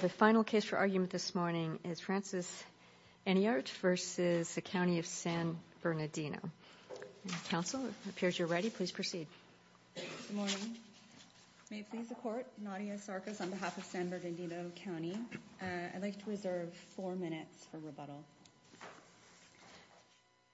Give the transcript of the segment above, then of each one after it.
The final case for argument this morning is Francis Enyart v. County of San Bernardino. Counsel, it appears you're ready. Please proceed. Good morning. May it please the Court, Nadia Sarkis on behalf of San Bernardino County. I'd like to reserve four minutes for rebuttal.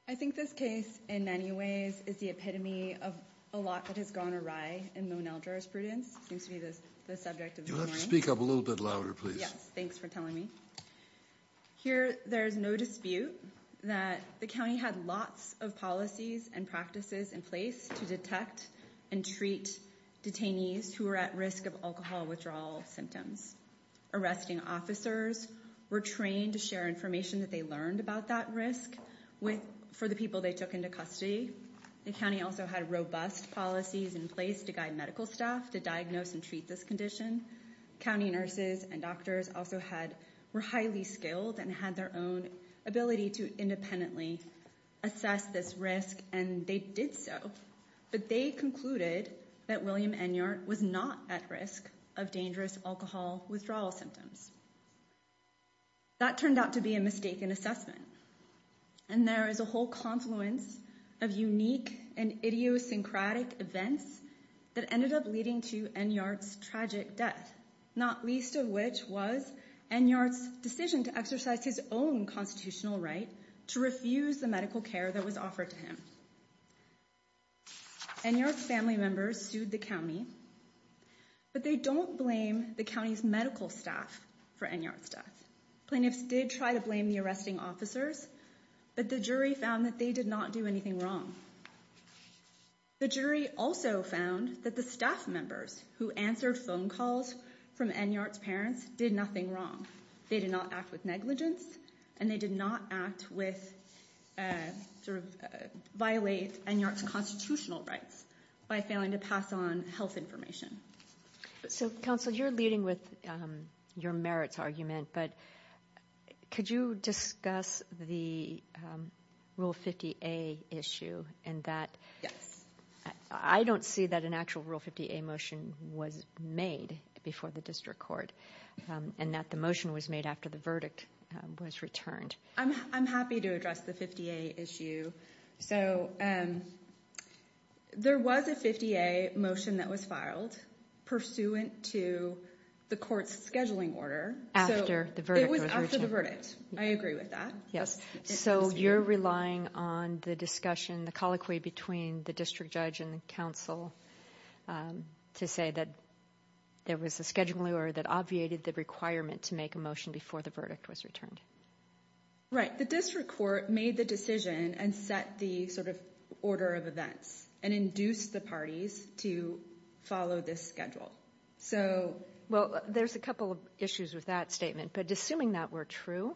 I think this case, in many ways, is the epitome of a lot that has gone awry in Mon-El jurisprudence. It seems to be the subject of the morning. You'll have to speak up a little bit louder, please. Yes, thanks for telling me. Here, there is no dispute that the county had lots of policies and practices in place to detect and treat detainees who were at risk of alcohol withdrawal symptoms. Arresting officers were trained to share information that they learned about that risk for the people they took into custody. The county also had robust policies in place to guide medical staff to diagnose and treat this condition. County nurses and doctors also were highly skilled and had their own ability to independently assess this risk, and they did so, but they concluded that William Enyart was not at risk of dangerous alcohol withdrawal symptoms. That turned out to be a mistaken assessment, and there is a whole confluence of unique and idiosyncratic events that ended up leading to Enyart's tragic death, not least of which was Enyart's decision to exercise his own constitutional right to refuse the medical care that was offered to him. Enyart's family members sued the county, but they don't blame the county's medical staff for Enyart's death. Plaintiffs did try to blame the arresting officers, but the jury found that they did not do anything wrong. The jury also found that the staff members who answered phone calls from Enyart's parents did nothing wrong. They did not act with negligence, and they did not act with, sort of, violate Enyart's constitutional rights by failing to pass on health information. So, Counsel, you're leading with your merits argument, but could you discuss the Rule 50A issue and that? Yes. I don't see that an actual Rule 50A motion was made before the district court, and that the motion was made after the verdict was returned. I'm happy to address the 50A issue. So, there was a 50A motion that was filed pursuant to the court's scheduling order. After the verdict was returned. It was after the verdict. I agree with that. Yes, so you're relying on the discussion, the colloquy between the district judge and the counsel to say that there was a scheduling order that obviated the requirement to make a motion before the verdict was returned. Right. The district court made the decision and set the, sort of, order of events and induced the parties to follow this schedule. So... Well, there's a couple of issues with that statement, but assuming that were true,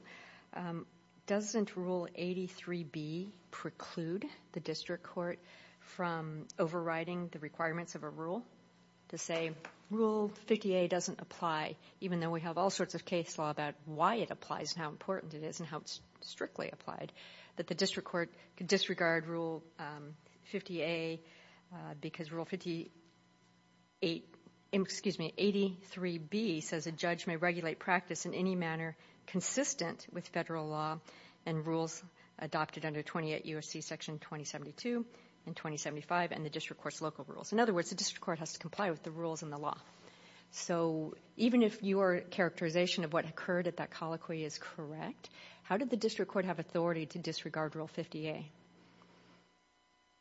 doesn't Rule 83B preclude the district court from overriding the requirements of a rule to say, Rule 50A doesn't apply, even though we have all sorts of case law about why it applies and how important it is and how it's strictly applied, that the district court could disregard Rule 50A because Rule 58, excuse me, 83B says a judge may regulate practice in any manner consistent with federal law and rules adopted under 28 U.S.C. Section 2072 and 2075 and the district court's local rules. In other words, the district court has to comply with the rules and the law. So even if your characterization of what occurred at that colloquy is correct, how did the district court have authority to disregard Rule 50A?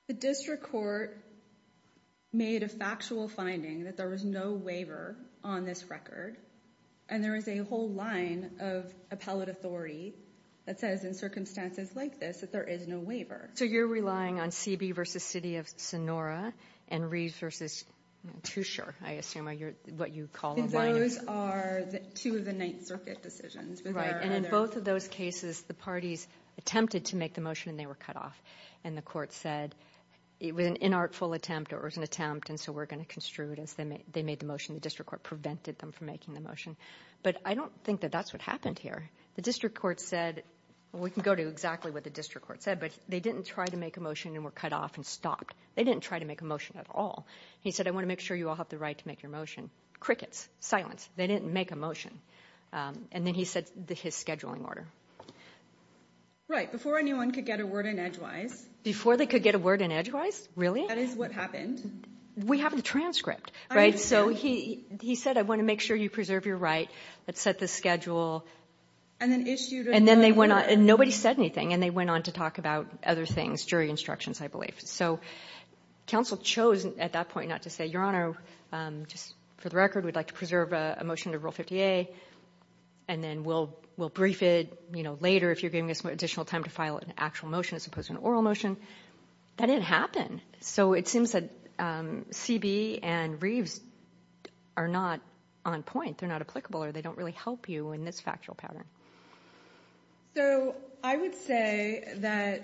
The district court made a factual finding that there was no waiver on this record and there is a whole line of appellate authority that says in circumstances like this that there is no waiver. So you're relying on C.B. v. City of Sonora and Reeves v. Toucher, I assume, what you call the line. Those are two of the Ninth Circuit decisions. Right, and in both of those cases the parties attempted to make the motion and they were cut off and the court said it was an inartful attempt or it was an attempt and so we're going to construe it as they made the motion. The district court prevented them from making the motion. But I don't think that that's what happened here. The district court said, we can go to exactly what the district court said, but they didn't try to make a motion and were cut off and stopped. They didn't try to make a motion at all. He said, I want to make sure you all have the right to make your motion. Crickets. They didn't make a motion. And then he said his scheduling order. Right, before anyone could get a word in edgewise. Before they could get a word in edgewise? Really? That is what happened. We have the transcript, right? So he said, I want to make sure you preserve your right. Let's set the schedule. And then issued a letter. And then they went on. Nobody said anything. And they went on to talk about other things, jury instructions, I believe. So counsel chose at that point not to say, Your Honor, just for the record, we'd like to preserve a motion to Rule 50A and then we'll brief it, you know, later if you're giving us additional time to file an actual motion as opposed to an oral motion. That didn't happen. So it seems that C.B. and Reeves are not on point. They're not applicable or they don't really help you in this factual pattern. So I would say that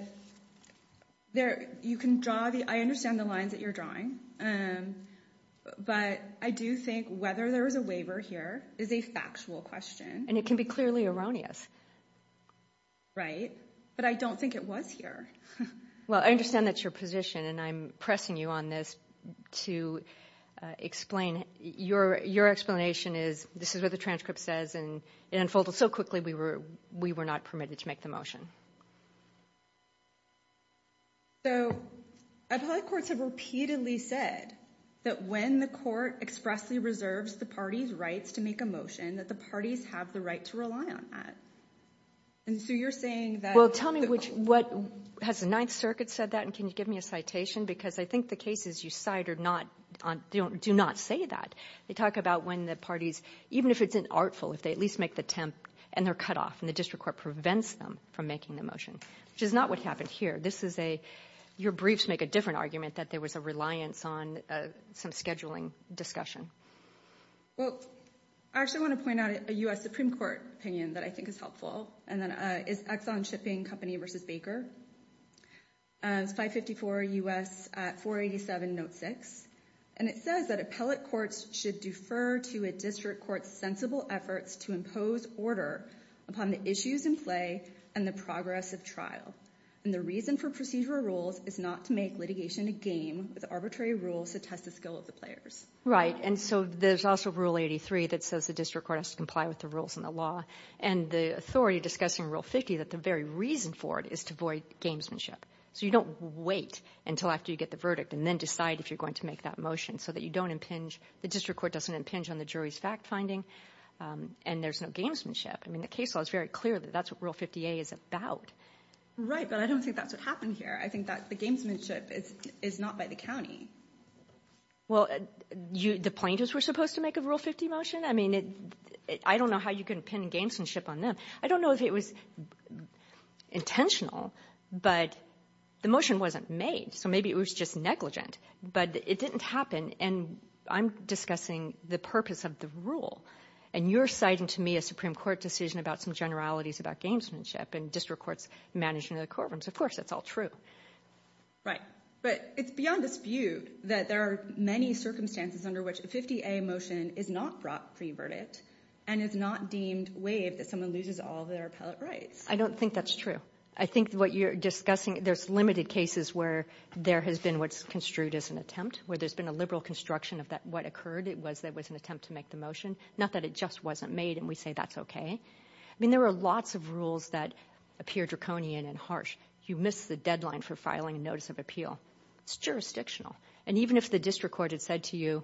you can draw the – I understand the lines that you're drawing. But I do think whether there was a waiver here is a factual question. And it can be clearly erroneous. Right. But I don't think it was here. Well, I understand that's your position, and I'm pressing you on this to explain. Your explanation is this is what the transcript says, and it unfolded so quickly we were not permitted to make the motion. So appellate courts have repeatedly said that when the court expressly reserves the parties' rights to make a motion that the parties have the right to rely on that. And so you're saying that – Well, tell me what – has the Ninth Circuit said that? And can you give me a citation? Because I think the cases you cite do not say that. They talk about when the parties, even if it's an artful, if they at least make the attempt and they're cut off and the district court prevents them from making the motion, which is not what happened here. This is a – your briefs make a different argument that there was a reliance on some scheduling discussion. Well, I actually want to point out a U.S. Supreme Court opinion that I think is helpful. And that is Exxon Shipping Company v. Baker, 554 U.S. 487 Note 6. And it says that appellate courts should defer to a district court's sensible efforts to impose order upon the issues in play and the progress of trial. And the reason for procedural rules is not to make litigation a game with arbitrary rules to test the skill of the players. Right, and so there's also Rule 83 that says the district court has to comply with the rules and the law, and the authority discussing Rule 50, that the very reason for it is to avoid gamesmanship. So you don't wait until after you get the verdict and then decide if you're going to make that motion so that you don't impinge – the district court doesn't impinge on the jury's fact-finding and there's no gamesmanship. I mean, the case law is very clear that that's what Rule 50A is about. Right, but I don't think that's what happened here. I think that the gamesmanship is not by the county. Well, the plaintiffs were supposed to make a Rule 50 motion? I mean, I don't know how you can pin gamesmanship on them. I don't know if it was intentional, but the motion wasn't made. So maybe it was just negligent, but it didn't happen, and I'm discussing the purpose of the rule, and you're citing to me a Supreme Court decision about some generalities about gamesmanship and district courts managing the courtrooms. Of course, that's all true. Right, but it's beyond dispute that there are many circumstances under which a 50A motion is not brought pre-verdict and is not deemed waived if someone loses all of their appellate rights. I don't think that's true. I think what you're discussing, there's limited cases where there has been what's construed as an attempt, where there's been a liberal construction of what occurred. It was an attempt to make the motion, not that it just wasn't made, and we say that's okay. I mean, there are lots of rules that appear draconian and harsh. You miss the deadline for filing a notice of appeal. It's jurisdictional. And even if the district court had said to you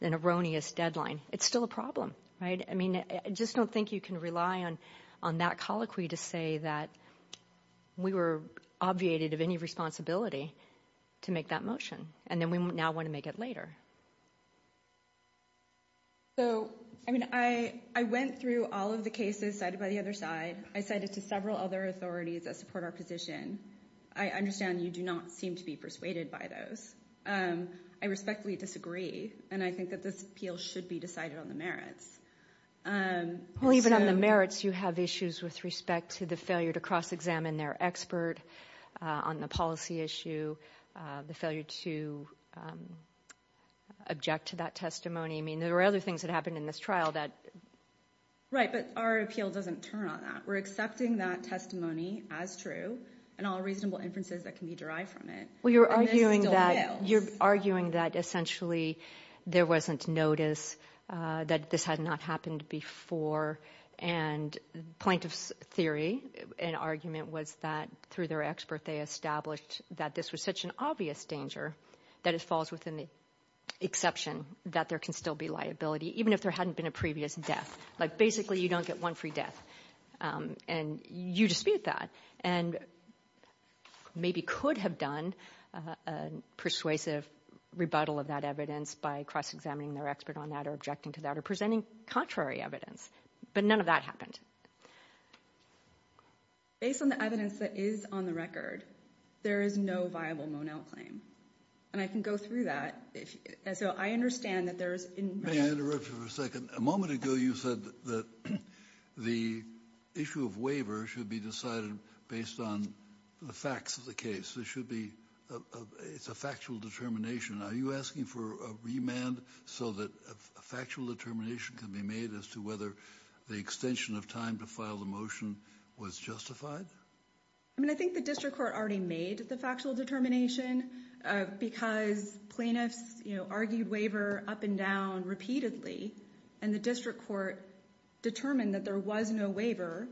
an erroneous deadline, it's still a problem, right? I mean, I just don't think you can rely on that colloquy to say that we were obviated of any responsibility to make that motion, and then we now want to make it later. So, I mean, I went through all of the cases cited by the other side. I cited to several other authorities that support our position. I understand you do not seem to be persuaded by those. I respectfully disagree, and I think that this appeal should be decided on the merits. Well, even on the merits, you have issues with respect to the failure to cross-examine their expert on the policy issue, the failure to object to that testimony. I mean, there are other things that happened in this trial that ---- Right, but our appeal doesn't turn on that. We're accepting that testimony as true and all reasonable inferences that can be derived from it. Well, you're arguing that essentially there wasn't notice that this had not happened before, and the plaintiff's theory and argument was that through their expert they established that this was such an obvious danger that it falls within the exception that there can still be liability, even if there hadn't been a previous death. Like basically you don't get one free death, and you dispute that and maybe could have done a persuasive rebuttal of that evidence by cross-examining their expert on that or objecting to that or presenting contrary evidence, but none of that happened. Based on the evidence that is on the record, there is no viable Monell claim, and I can go through that. So I understand that there's ---- May I interrupt you for a second? A moment ago you said that the issue of waiver should be decided based on the facts of the case. It's a factual determination. Are you asking for a remand so that a factual determination can be made as to whether the extension of time to file the motion was justified? I think the district court already made the factual determination because plaintiffs argued waiver up and down repeatedly, and the district court determined that there was no waiver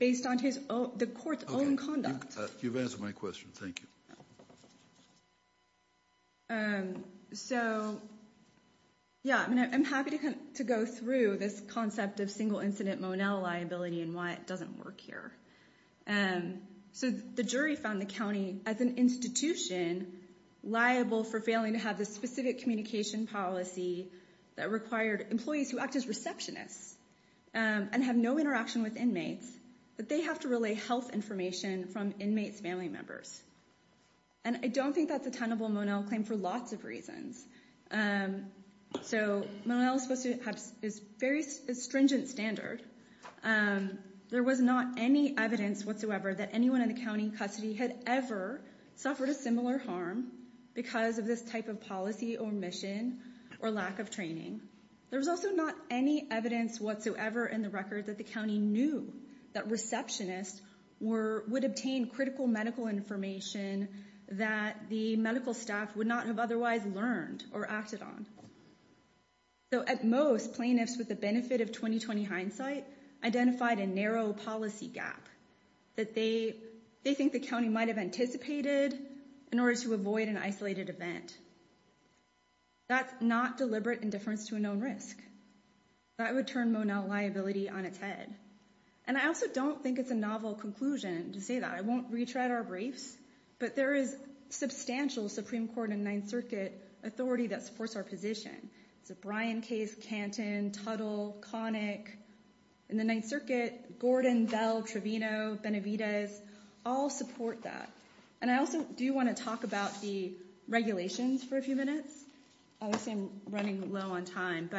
based on the court's own conduct. You've answered my question. Thank you. I'm happy to go through this concept of single-incident Monell liability and why it doesn't work here. The jury found the county, as an institution, liable for failing to have the specific communication policy that required employees who act as receptionists and have no interaction with inmates, that they have to relay health information from inmates' family members. I don't think that's a tenable Monell claim for lots of reasons. Monell is supposed to have a very stringent standard. There was not any evidence whatsoever that anyone in the county in custody had ever suffered a similar harm because of this type of policy or mission or lack of training. There was also not any evidence whatsoever in the record that the county knew that receptionists would obtain critical medical information that the medical staff would not have otherwise learned or acted on. At most, plaintiffs, with the benefit of 20-20 hindsight, identified a narrow policy gap that they think the county might have anticipated in order to avoid an isolated event. That's not deliberate indifference to a known risk. That would turn Monell liability on its head. I also don't think it's a novel conclusion to say that. I won't retread our briefs, but there is substantial Supreme Court and Ninth Circuit authority that supports our position. Brian Case, Canton, Tuttle, Connick, and the Ninth Circuit, Gordon, Bell, Trevino, Benavidez all support that. I also do want to talk about the regulations for a few minutes. Obviously, I'm running low on time.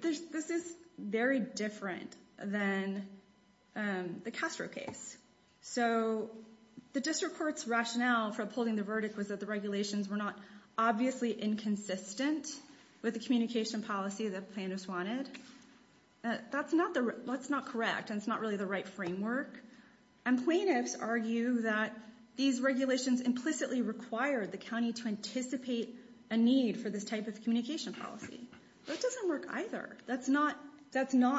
This is very different than the Castro case. The district court's rationale for upholding the verdict was that the regulations were not obviously inconsistent with the communication policy that plaintiffs wanted. That's not correct, and it's not really the right framework. And plaintiffs argue that these regulations implicitly require the county to anticipate a need for this type of communication policy. That doesn't work either. That's not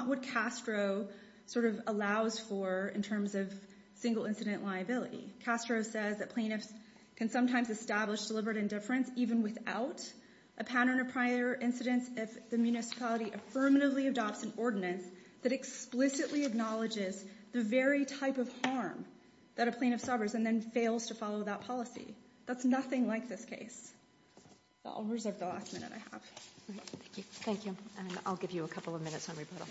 what Castro sort of allows for in terms of single incident liability. Castro says that plaintiffs can sometimes establish deliberate indifference even without a pattern of prior incidents if the municipality affirmatively adopts an ordinance that explicitly acknowledges the very type of harm that a plaintiff suffers and then fails to follow that policy. That's nothing like this case. I'll reserve the last minute I have. Thank you. I'll give you a couple of minutes on rebuttal.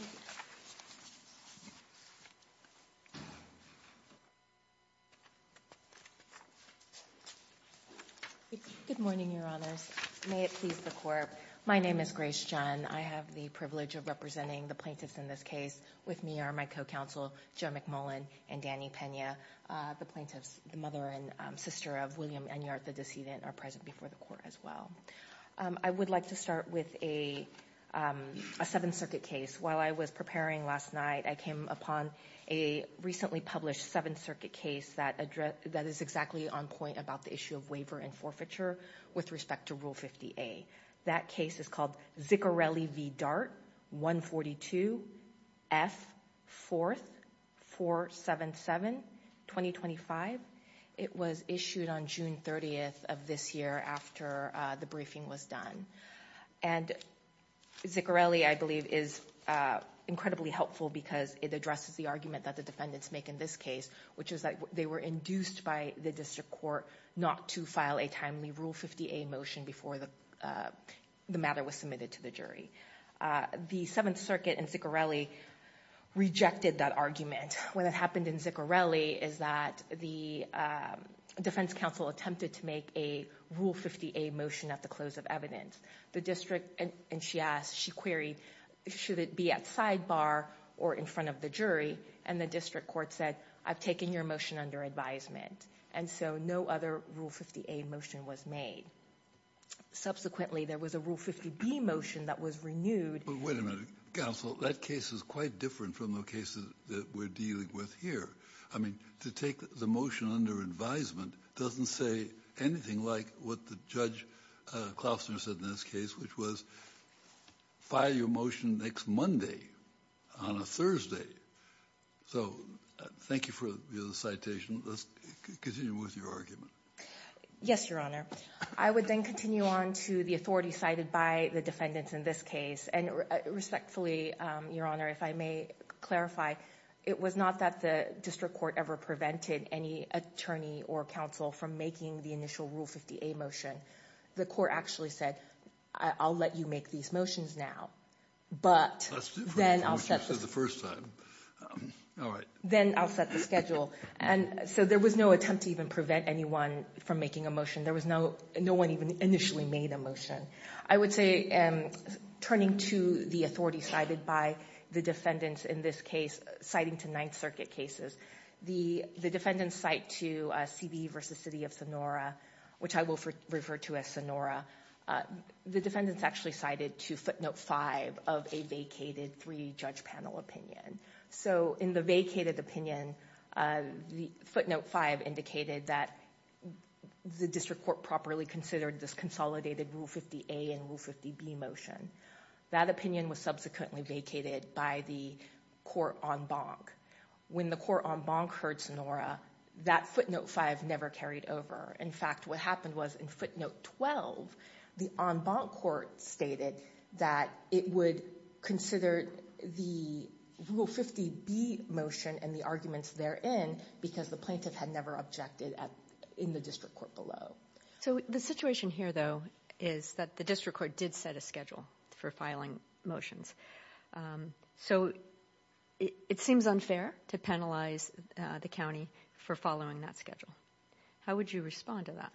Good morning, Your Honors. May it please the Court. My name is Grace Chun. I have the privilege of representing the plaintiffs in this case. With me are my co-counsel, Joe McMullen and Danny Pena. The plaintiffs, the mother and sister of William Enyart, the decedent, are present before the Court as well. I would like to start with a Seventh Circuit case. While I was preparing last night, I came upon a recently published Seventh Circuit case that is exactly on point about the issue of waiver and forfeiture with respect to Rule 50A. That case is called Ziccarelli v. Dart, 142, F, 4th, 477, 2025. It was issued on June 30th of this year after the briefing was done. And Ziccarelli, I believe, is incredibly helpful because it addresses the argument that the defendants make in this case, which is that they were induced by the district court not to file a timely Rule 50A motion before the matter was submitted to the jury. The Seventh Circuit and Ziccarelli rejected that argument. What happened in Ziccarelli is that the defense counsel attempted to make a Rule 50A motion at the close of evidence. The district, and she asked, she queried, should it be at sidebar or in front of the jury? And the district court said, I've taken your motion under advisement. And so no other Rule 50A motion was made. Subsequently, there was a Rule 50B motion that was renewed. But wait a minute, counsel. That case is quite different from the cases that we're dealing with here. I mean, to take the motion under advisement doesn't say anything like what Judge Klausner said in this case, which was file your motion next Monday on a Thursday. So thank you for the citation. Let's continue with your argument. Yes, Your Honor. I would then continue on to the authority cited by the defendants in this case. And respectfully, Your Honor, if I may clarify, it was not that the district court ever prevented any attorney or counsel from making the initial Rule 50A motion. The court actually said, I'll let you make these motions now. But then I'll set the schedule. And so there was no attempt to even prevent anyone from making a motion. There was no one even initially made a motion. I would say, turning to the authority cited by the defendants in this case, citing to Ninth Circuit cases, the defendants cite to C.B. v. City of Sonora, which I will refer to as Sonora, the defendants actually cited to footnote 5 of a vacated three-judge panel opinion. So in the vacated opinion, footnote 5 indicated that the district court properly considered this consolidated Rule 50A and Rule 50B motion. That opinion was subsequently vacated by the court en banc. When the court en banc heard Sonora, that footnote 5 never carried over. In fact, what happened was in footnote 12, the en banc court stated that it would consider the Rule 50B motion and the arguments therein because the plaintiff had never objected in the district court below. So the situation here, though, is that the district court did set a schedule for filing motions. So it seems unfair to penalize the county for following that schedule. How would you respond to that?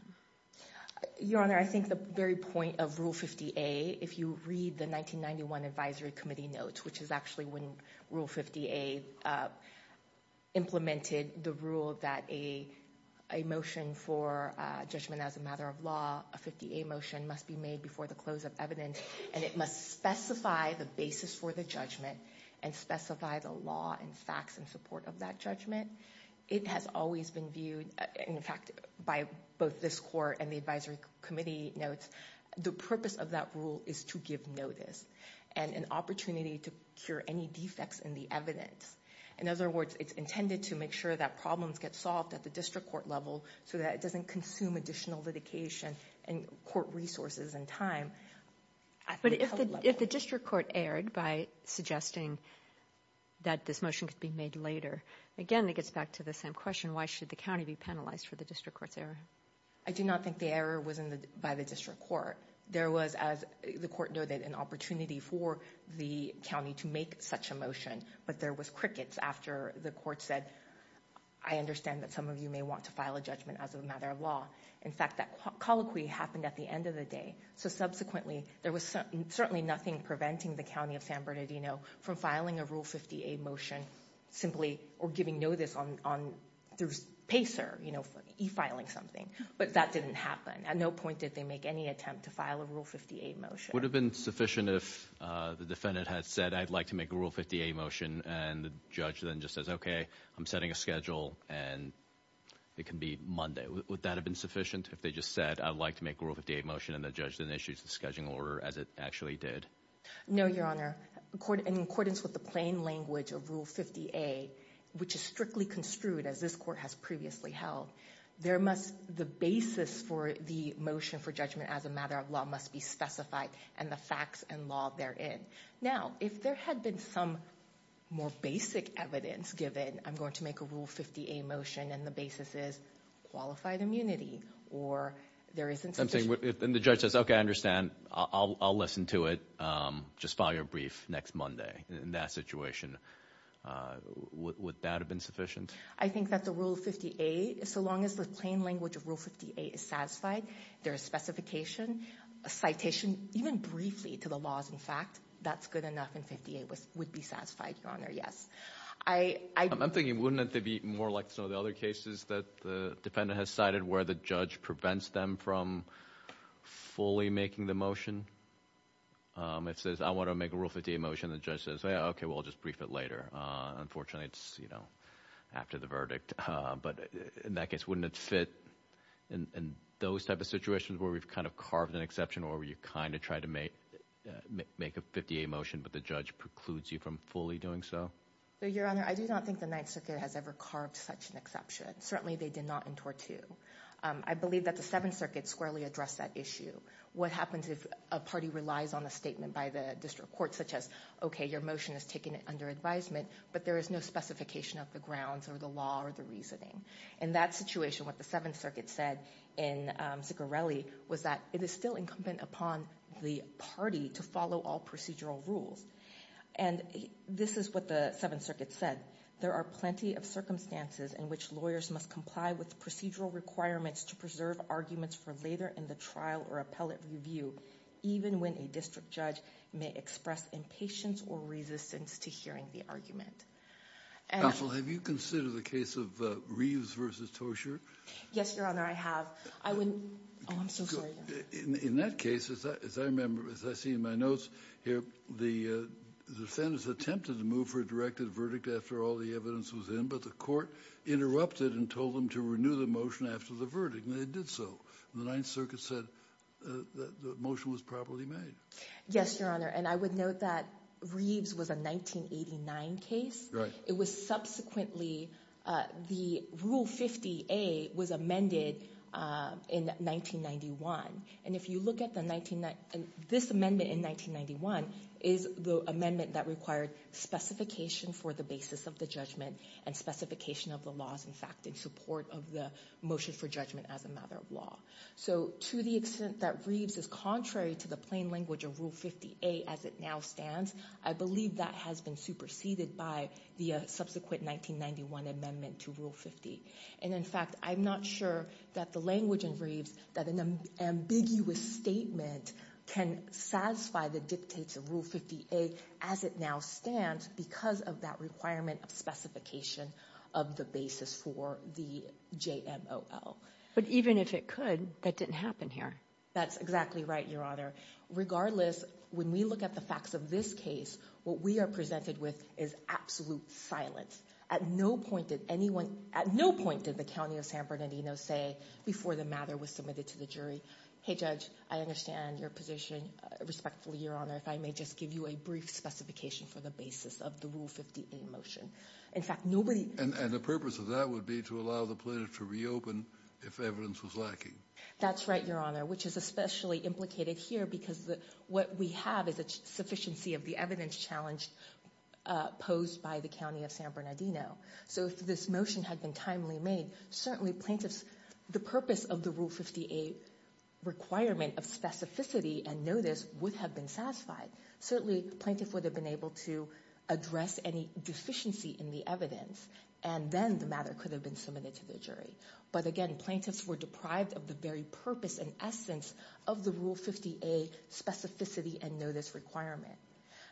Your Honor, I think the very point of Rule 50A, if you read the 1991 Advisory Committee notes, which is actually when Rule 50A implemented the rule that a motion for judgment as a matter of law, a 50A motion, must be made before the close of evidence, and it must specify the basis for the judgment and specify the law and facts in support of that judgment. It has always been viewed, in fact, by both this court and the Advisory Committee notes, the purpose of that rule is to give notice and an opportunity to cure any defects in the evidence. In other words, it's intended to make sure that problems get solved at the district court level so that it doesn't consume additional litigation and court resources and time. But if the district court erred by suggesting that this motion could be made later, again, it gets back to the same question. Why should the county be penalized for the district court's error? I do not think the error was by the district court. There was, as the court noted, an opportunity for the county to make such a motion, but there was crickets after the court said, I understand that some of you may want to file a judgment as a matter of law. In fact, that colloquy happened at the end of the day, so subsequently there was certainly nothing preventing the county of San Bernardino from filing a Rule 50A motion simply or giving notice through PACER, e-filing something. But that didn't happen. At no point did they make any attempt to file a Rule 50A motion. Would it have been sufficient if the defendant had said, I'd like to make a Rule 50A motion, and the judge then just says, okay, I'm setting a schedule, and it can be Monday. Would that have been sufficient if they just said, I'd like to make a Rule 50A motion, and the judge then issues the scheduling order as it actually did? No, Your Honor. In accordance with the plain language of Rule 50A, which is strictly construed as this court has previously held, the basis for the motion for judgment as a matter of law must be specified and the facts and law therein. Now, if there had been some more basic evidence given, I'm going to make a Rule 50A motion, and the basis is qualified immunity, or there isn't sufficient. And the judge says, okay, I understand. I'll listen to it. Just file your brief next Monday in that situation. Would that have been sufficient? I think that the Rule 50A, so long as the plain language of Rule 50A is satisfied, there is specification, a citation, even briefly, to the laws and fact, that's good enough, and 50A would be satisfied, Your Honor, yes. I'm thinking, wouldn't it be more like some of the other cases that the defendant has cited where the judge prevents them from fully making the motion? It says, I want to make a Rule 50A motion, and the judge says, okay, well, I'll just brief it later. Unfortunately, it's after the verdict. But in that case, wouldn't it fit in those type of situations where we've kind of carved an exception or where you kind of try to make a 50A motion but the judge precludes you from fully doing so? Your Honor, I do not think the Ninth Circuit has ever carved such an exception. Certainly, they did not in Tort 2. I believe that the Seventh Circuit squarely addressed that issue. What happens if a party relies on a statement by the district court such as, okay, your motion is taken under advisement, but there is no specification of the grounds or the law or the reasoning? In that situation, what the Seventh Circuit said in Ziccarelli was that it is still incumbent upon the party to follow all procedural rules. And this is what the Seventh Circuit said. There are plenty of circumstances in which lawyers must comply with procedural requirements to preserve arguments for later in the trial or appellate review, even when a district judge may express impatience or resistance to hearing the argument. Counsel, have you considered the case of Reeves v. Toshier? Yes, Your Honor, I have. Oh, I'm so sorry. In that case, as I remember, as I see in my notes here, the defendants attempted to move for a directed verdict after all the evidence was in, but the court interrupted and told them to renew the motion after the verdict, and they did so. The Ninth Circuit said that the motion was properly made. Yes, Your Honor, and I would note that Reeves was a 1989 case. It was subsequently the Rule 50A was amended in 1991. And if you look at this amendment in 1991, it is the amendment that required specification for the basis of the judgment and specification of the laws in fact in support of the motion for judgment as a matter of law. So to the extent that Reeves is contrary to the plain language of Rule 50A as it now stands, I believe that has been superseded by the subsequent 1991 amendment to Rule 50. And in fact, I'm not sure that the language in Reeves, that an ambiguous statement can satisfy the dictates of Rule 50A as it now stands because of that requirement of specification of the basis for the JMOL. But even if it could, that didn't happen here. That's exactly right, Your Honor. Regardless, when we look at the facts of this case, what we are presented with is absolute silence. At no point did anyone, at no point did the County of San Bernardino say before the matter was submitted to the jury, hey judge, I understand your position respectfully, Your Honor, if I may just give you a brief specification for the basis of the Rule 50A motion. In fact, nobody... And the purpose of that would be to allow the plaintiff to reopen if evidence was lacking. That's right, Your Honor, which is especially implicated here because what we have is a sufficiency of the evidence challenge posed by the County of San Bernardino. So if this motion had been timely made, certainly plaintiffs, the purpose of the Rule 50A requirement of specificity and notice would have been satisfied. Certainly, plaintiff would have been able to address any deficiency in the evidence and then the matter could have been submitted to the jury. But again, plaintiffs were deprived of the very purpose and essence of the Rule 50A specificity and notice requirement.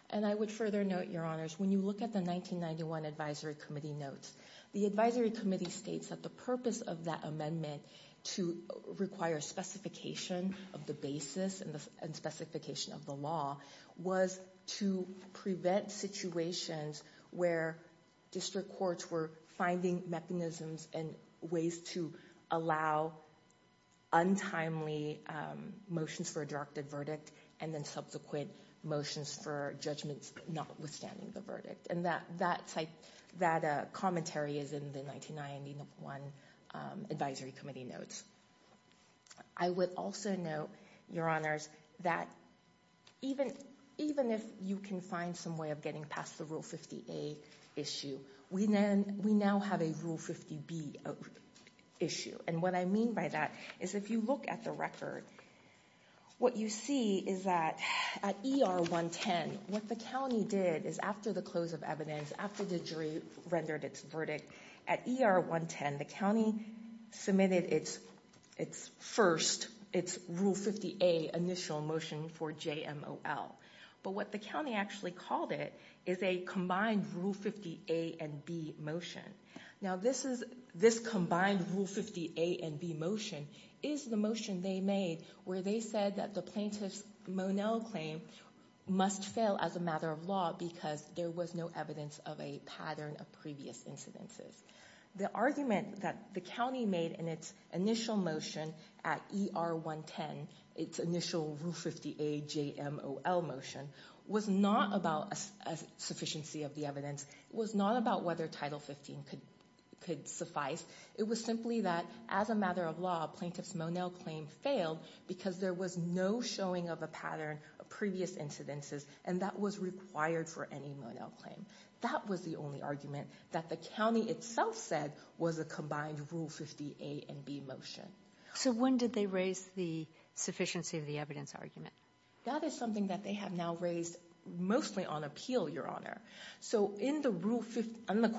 And I would further note, Your Honors, when you look at the 1991 Advisory Committee notes, the Advisory Committee states that the purpose of that amendment to require specification of the basis and specification of the law was to prevent situations where district courts were finding mechanisms and ways to allow untimely motions for a directed verdict and then subsequent motions for judgments notwithstanding the verdict. And that commentary is in the 1991 Advisory Committee notes. I would also note, Your Honors, that even if you can find some way of getting past the Rule 50A issue, we now have a Rule 50B issue. And what I mean by that is if you look at the record, what you see is that at ER 110, what the county did is after the close of evidence, after the jury rendered its verdict, at ER 110, the county submitted its first, its Rule 50A initial motion for JMOL. But what the county actually called it is a combined Rule 50A and B motion. Now, this combined Rule 50A and B motion is the motion they made where they said that the plaintiff's Monell claim must fail as a matter of law because there was no evidence of a pattern of previous incidences. The argument that the county made in its initial motion at ER 110, its initial Rule 50A JMOL motion, was not about a sufficiency of the evidence. It was not about whether Title 15 could suffice. It was simply that as a matter of law, plaintiff's Monell claim failed because there was no showing of a pattern of previous incidences, and that was required for any Monell claim. That was the only argument that the county itself said was a combined Rule 50A and B motion. So when did they raise the sufficiency of the evidence argument? That is something that they have now raised mostly on appeal, Your Honor. So in the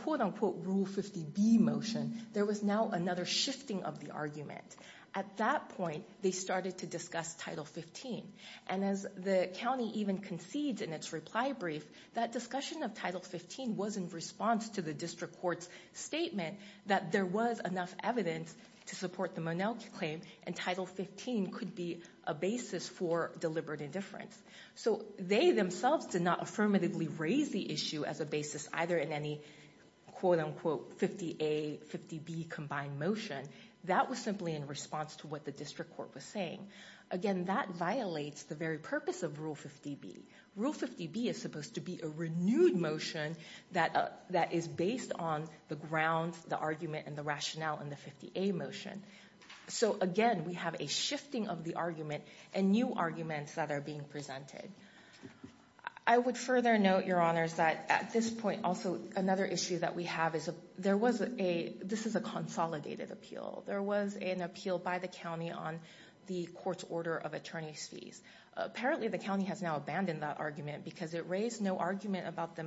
quote-unquote Rule 50B motion, there was now another shifting of the argument. At that point, they started to discuss Title 15. And as the county even concedes in its reply brief, that discussion of Title 15 was in response to the district court's statement that there was enough evidence to support the Monell claim and Title 15 could be a basis for deliberate indifference. So they themselves did not affirmatively raise the issue as a basis either in any quote-unquote 50A, 50B combined motion. That was simply in response to what the district court was saying. Again, that violates the very purpose of Rule 50B. Rule 50B is supposed to be a renewed motion that is based on the grounds, the argument, and the rationale in the 50A motion. So, again, we have a shifting of the argument and new arguments that are being presented. I would further note, Your Honors, that at this point also another issue that we have is this is a consolidated appeal. There was an appeal by the county on the court's order of attorney's fees. Apparently, the county has now abandoned that argument because it raised no argument about the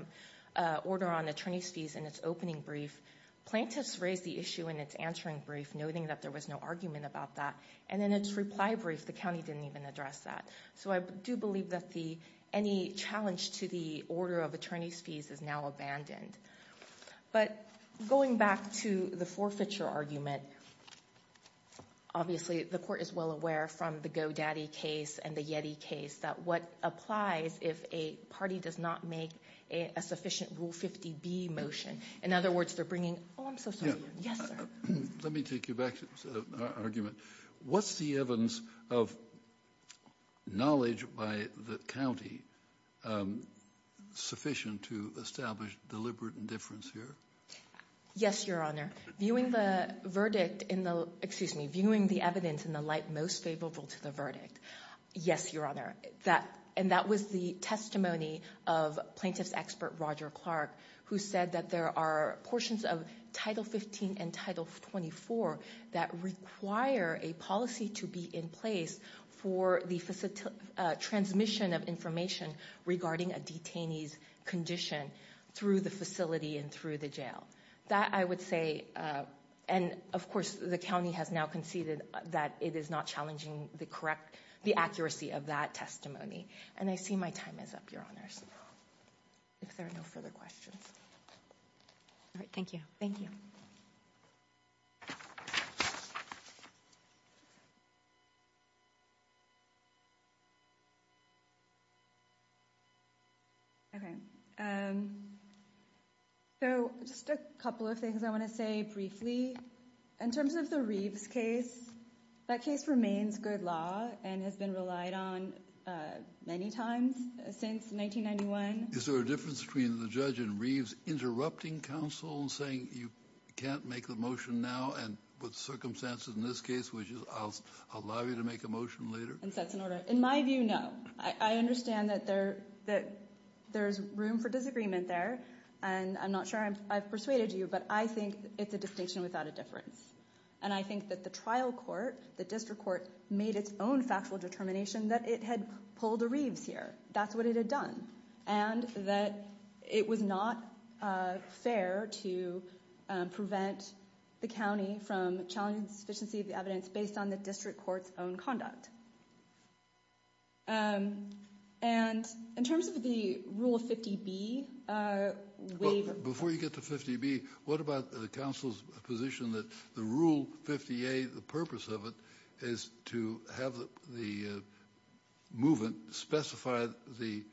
order on attorney's fees in its opening brief. Plaintiffs raised the issue in its answering brief, noting that there was no argument about that. And in its reply brief, the county didn't even address that. So I do believe that any challenge to the order of attorney's fees is now abandoned. But going back to the forfeiture argument, obviously the court is well aware from the Go Daddy case and the Yeti case that what applies if a party does not make a sufficient Rule 50B motion, in other words, they're bringing, oh, I'm so sorry. Yes, sir. Let me take you back to the argument. Was the evidence of knowledge by the county sufficient to establish deliberate indifference here? Yes, Your Honor. Viewing the verdict in the, excuse me, viewing the evidence in the light most favorable to the verdict, yes, Your Honor. And that was the testimony of plaintiff's expert, Roger Clark, who said that there are portions of Title 15 and Title 24 that require a policy to be in place for the transmission of information regarding a detainee's condition through the facility and through the jail. That I would say, and of course the county has now conceded that it is not challenging the correct, the accuracy of that testimony. And I see my time is up, Your Honors. If there are no further questions. All right, thank you. Thank you. Thank you. Okay. So just a couple of things I want to say briefly. In terms of the Reeves case, that case remains good law and has been relied on many times since 1991. Is there a difference between the judge in Reeves interrupting counsel and saying you can't make the motion now and with circumstances in this case, which is I'll allow you to make a motion later? In my view, no. I understand that there's room for disagreement there, and I'm not sure I've persuaded you, but I think it's a distinction without a difference. And I think that the trial court, the district court, made its own factual determination that it had pulled a Reeves here. That's what it had done. And that it was not fair to prevent the county from challenging the sufficiency of the evidence based on the district court's own conduct. And in terms of the Rule 50B waiver. Before you get to 50B, what about the counsel's position that the Rule 50A, the purpose of it, is to have the movement specify the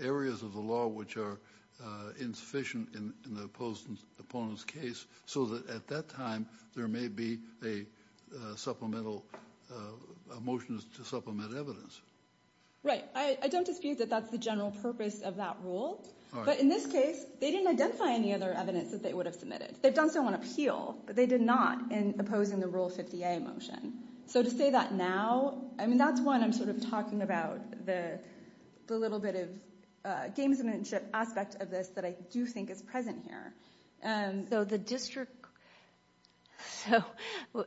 areas of the law which are insufficient in the opposed opponent's case so that at that time there may be a supplemental motion to supplement evidence? Right. I don't dispute that that's the general purpose of that rule. But in this case, they didn't identify any other evidence that they would have submitted. They've done so on appeal, but they did not in opposing the Rule 50A motion. So to say that now, I mean, that's when I'm sort of talking about the little bit of gamesmanship aspect of this that I do think is present here. So the district so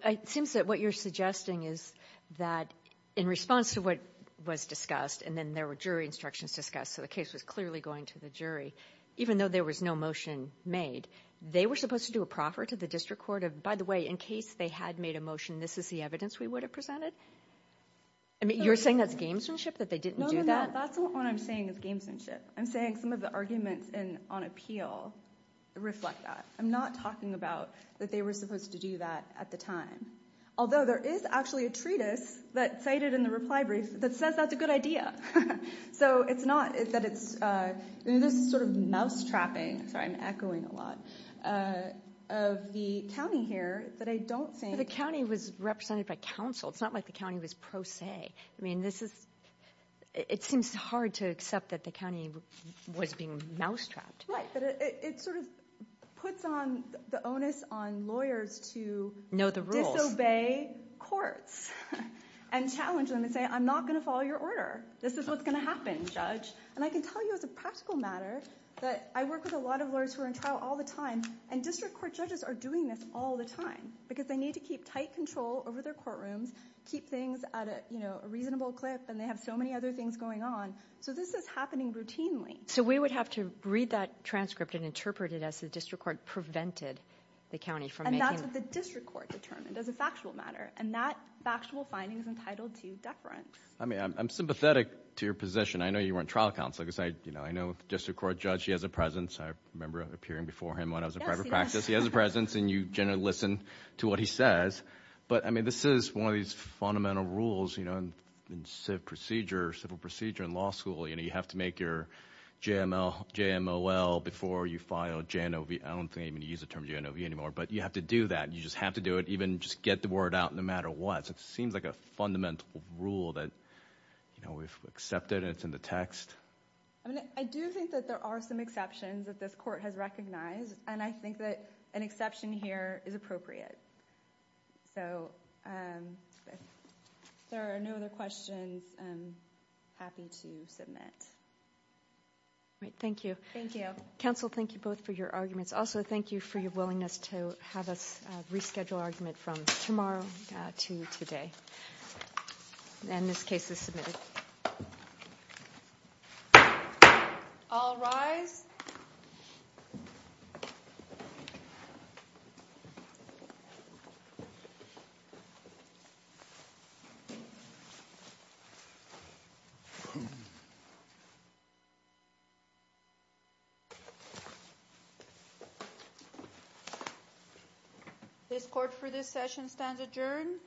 it seems that what you're suggesting is that in response to what was discussed and then there were jury instructions discussed, so the case was clearly going to the jury, even though there was no motion made, they were supposed to do a proffer to the district court of, by the way, in case they had made a motion, this is the evidence we would have presented? I mean, you're saying that's gamesmanship, that they didn't do that? No, no, no. That's not what I'm saying is gamesmanship. I'm saying some of the arguments on appeal reflect that. I'm not talking about that they were supposed to do that at the time. Although there is actually a treatise that's cited in the reply brief that says that's a good idea. So it's not that it's this sort of mousetrapping, sorry, I'm echoing a lot, of the county here that I don't think. The county was represented by counsel. It's not like the county was pro se. I mean, this is it seems hard to accept that the county was being mousetrapped. Right, but it sort of puts on the onus on lawyers to disobey courts and challenge them and say I'm not going to follow your order. This is what's going to happen, judge. And I can tell you as a practical matter that I work with a lot of lawyers who are in trial all the time, and district court judges are doing this all the time because they need to keep tight control over their courtrooms, keep things at a reasonable clip, and they have so many other things going on. So this is happening routinely. So we would have to read that transcript and interpret it as the district court prevented the county from making. And that's what the district court determined as a factual matter, and that factual finding is entitled to deference. I mean, I'm sympathetic to your position. I know you weren't trial counsel because I know the district court judge, he has a presence. I remember appearing before him when I was in private practice. He has a presence, and you generally listen to what he says. But, I mean, this is one of these fundamental rules in civil procedure and law school. You know, you have to make your JMOL before you file JNOV. I don't think they even use the term JNOV anymore. But you have to do that. You just have to do it, even just get the word out no matter what. So it seems like a fundamental rule that, you know, we've accepted and it's in the text. I do think that there are some exceptions that this court has recognized, and I think that an exception here is appropriate. So if there are no other questions, I'm happy to submit. All right. Thank you. Thank you. Counsel, thank you both for your arguments. Also, thank you for your willingness to have us reschedule argument from tomorrow to today. And this case is submitted. All rise. This court for this session stands adjourned.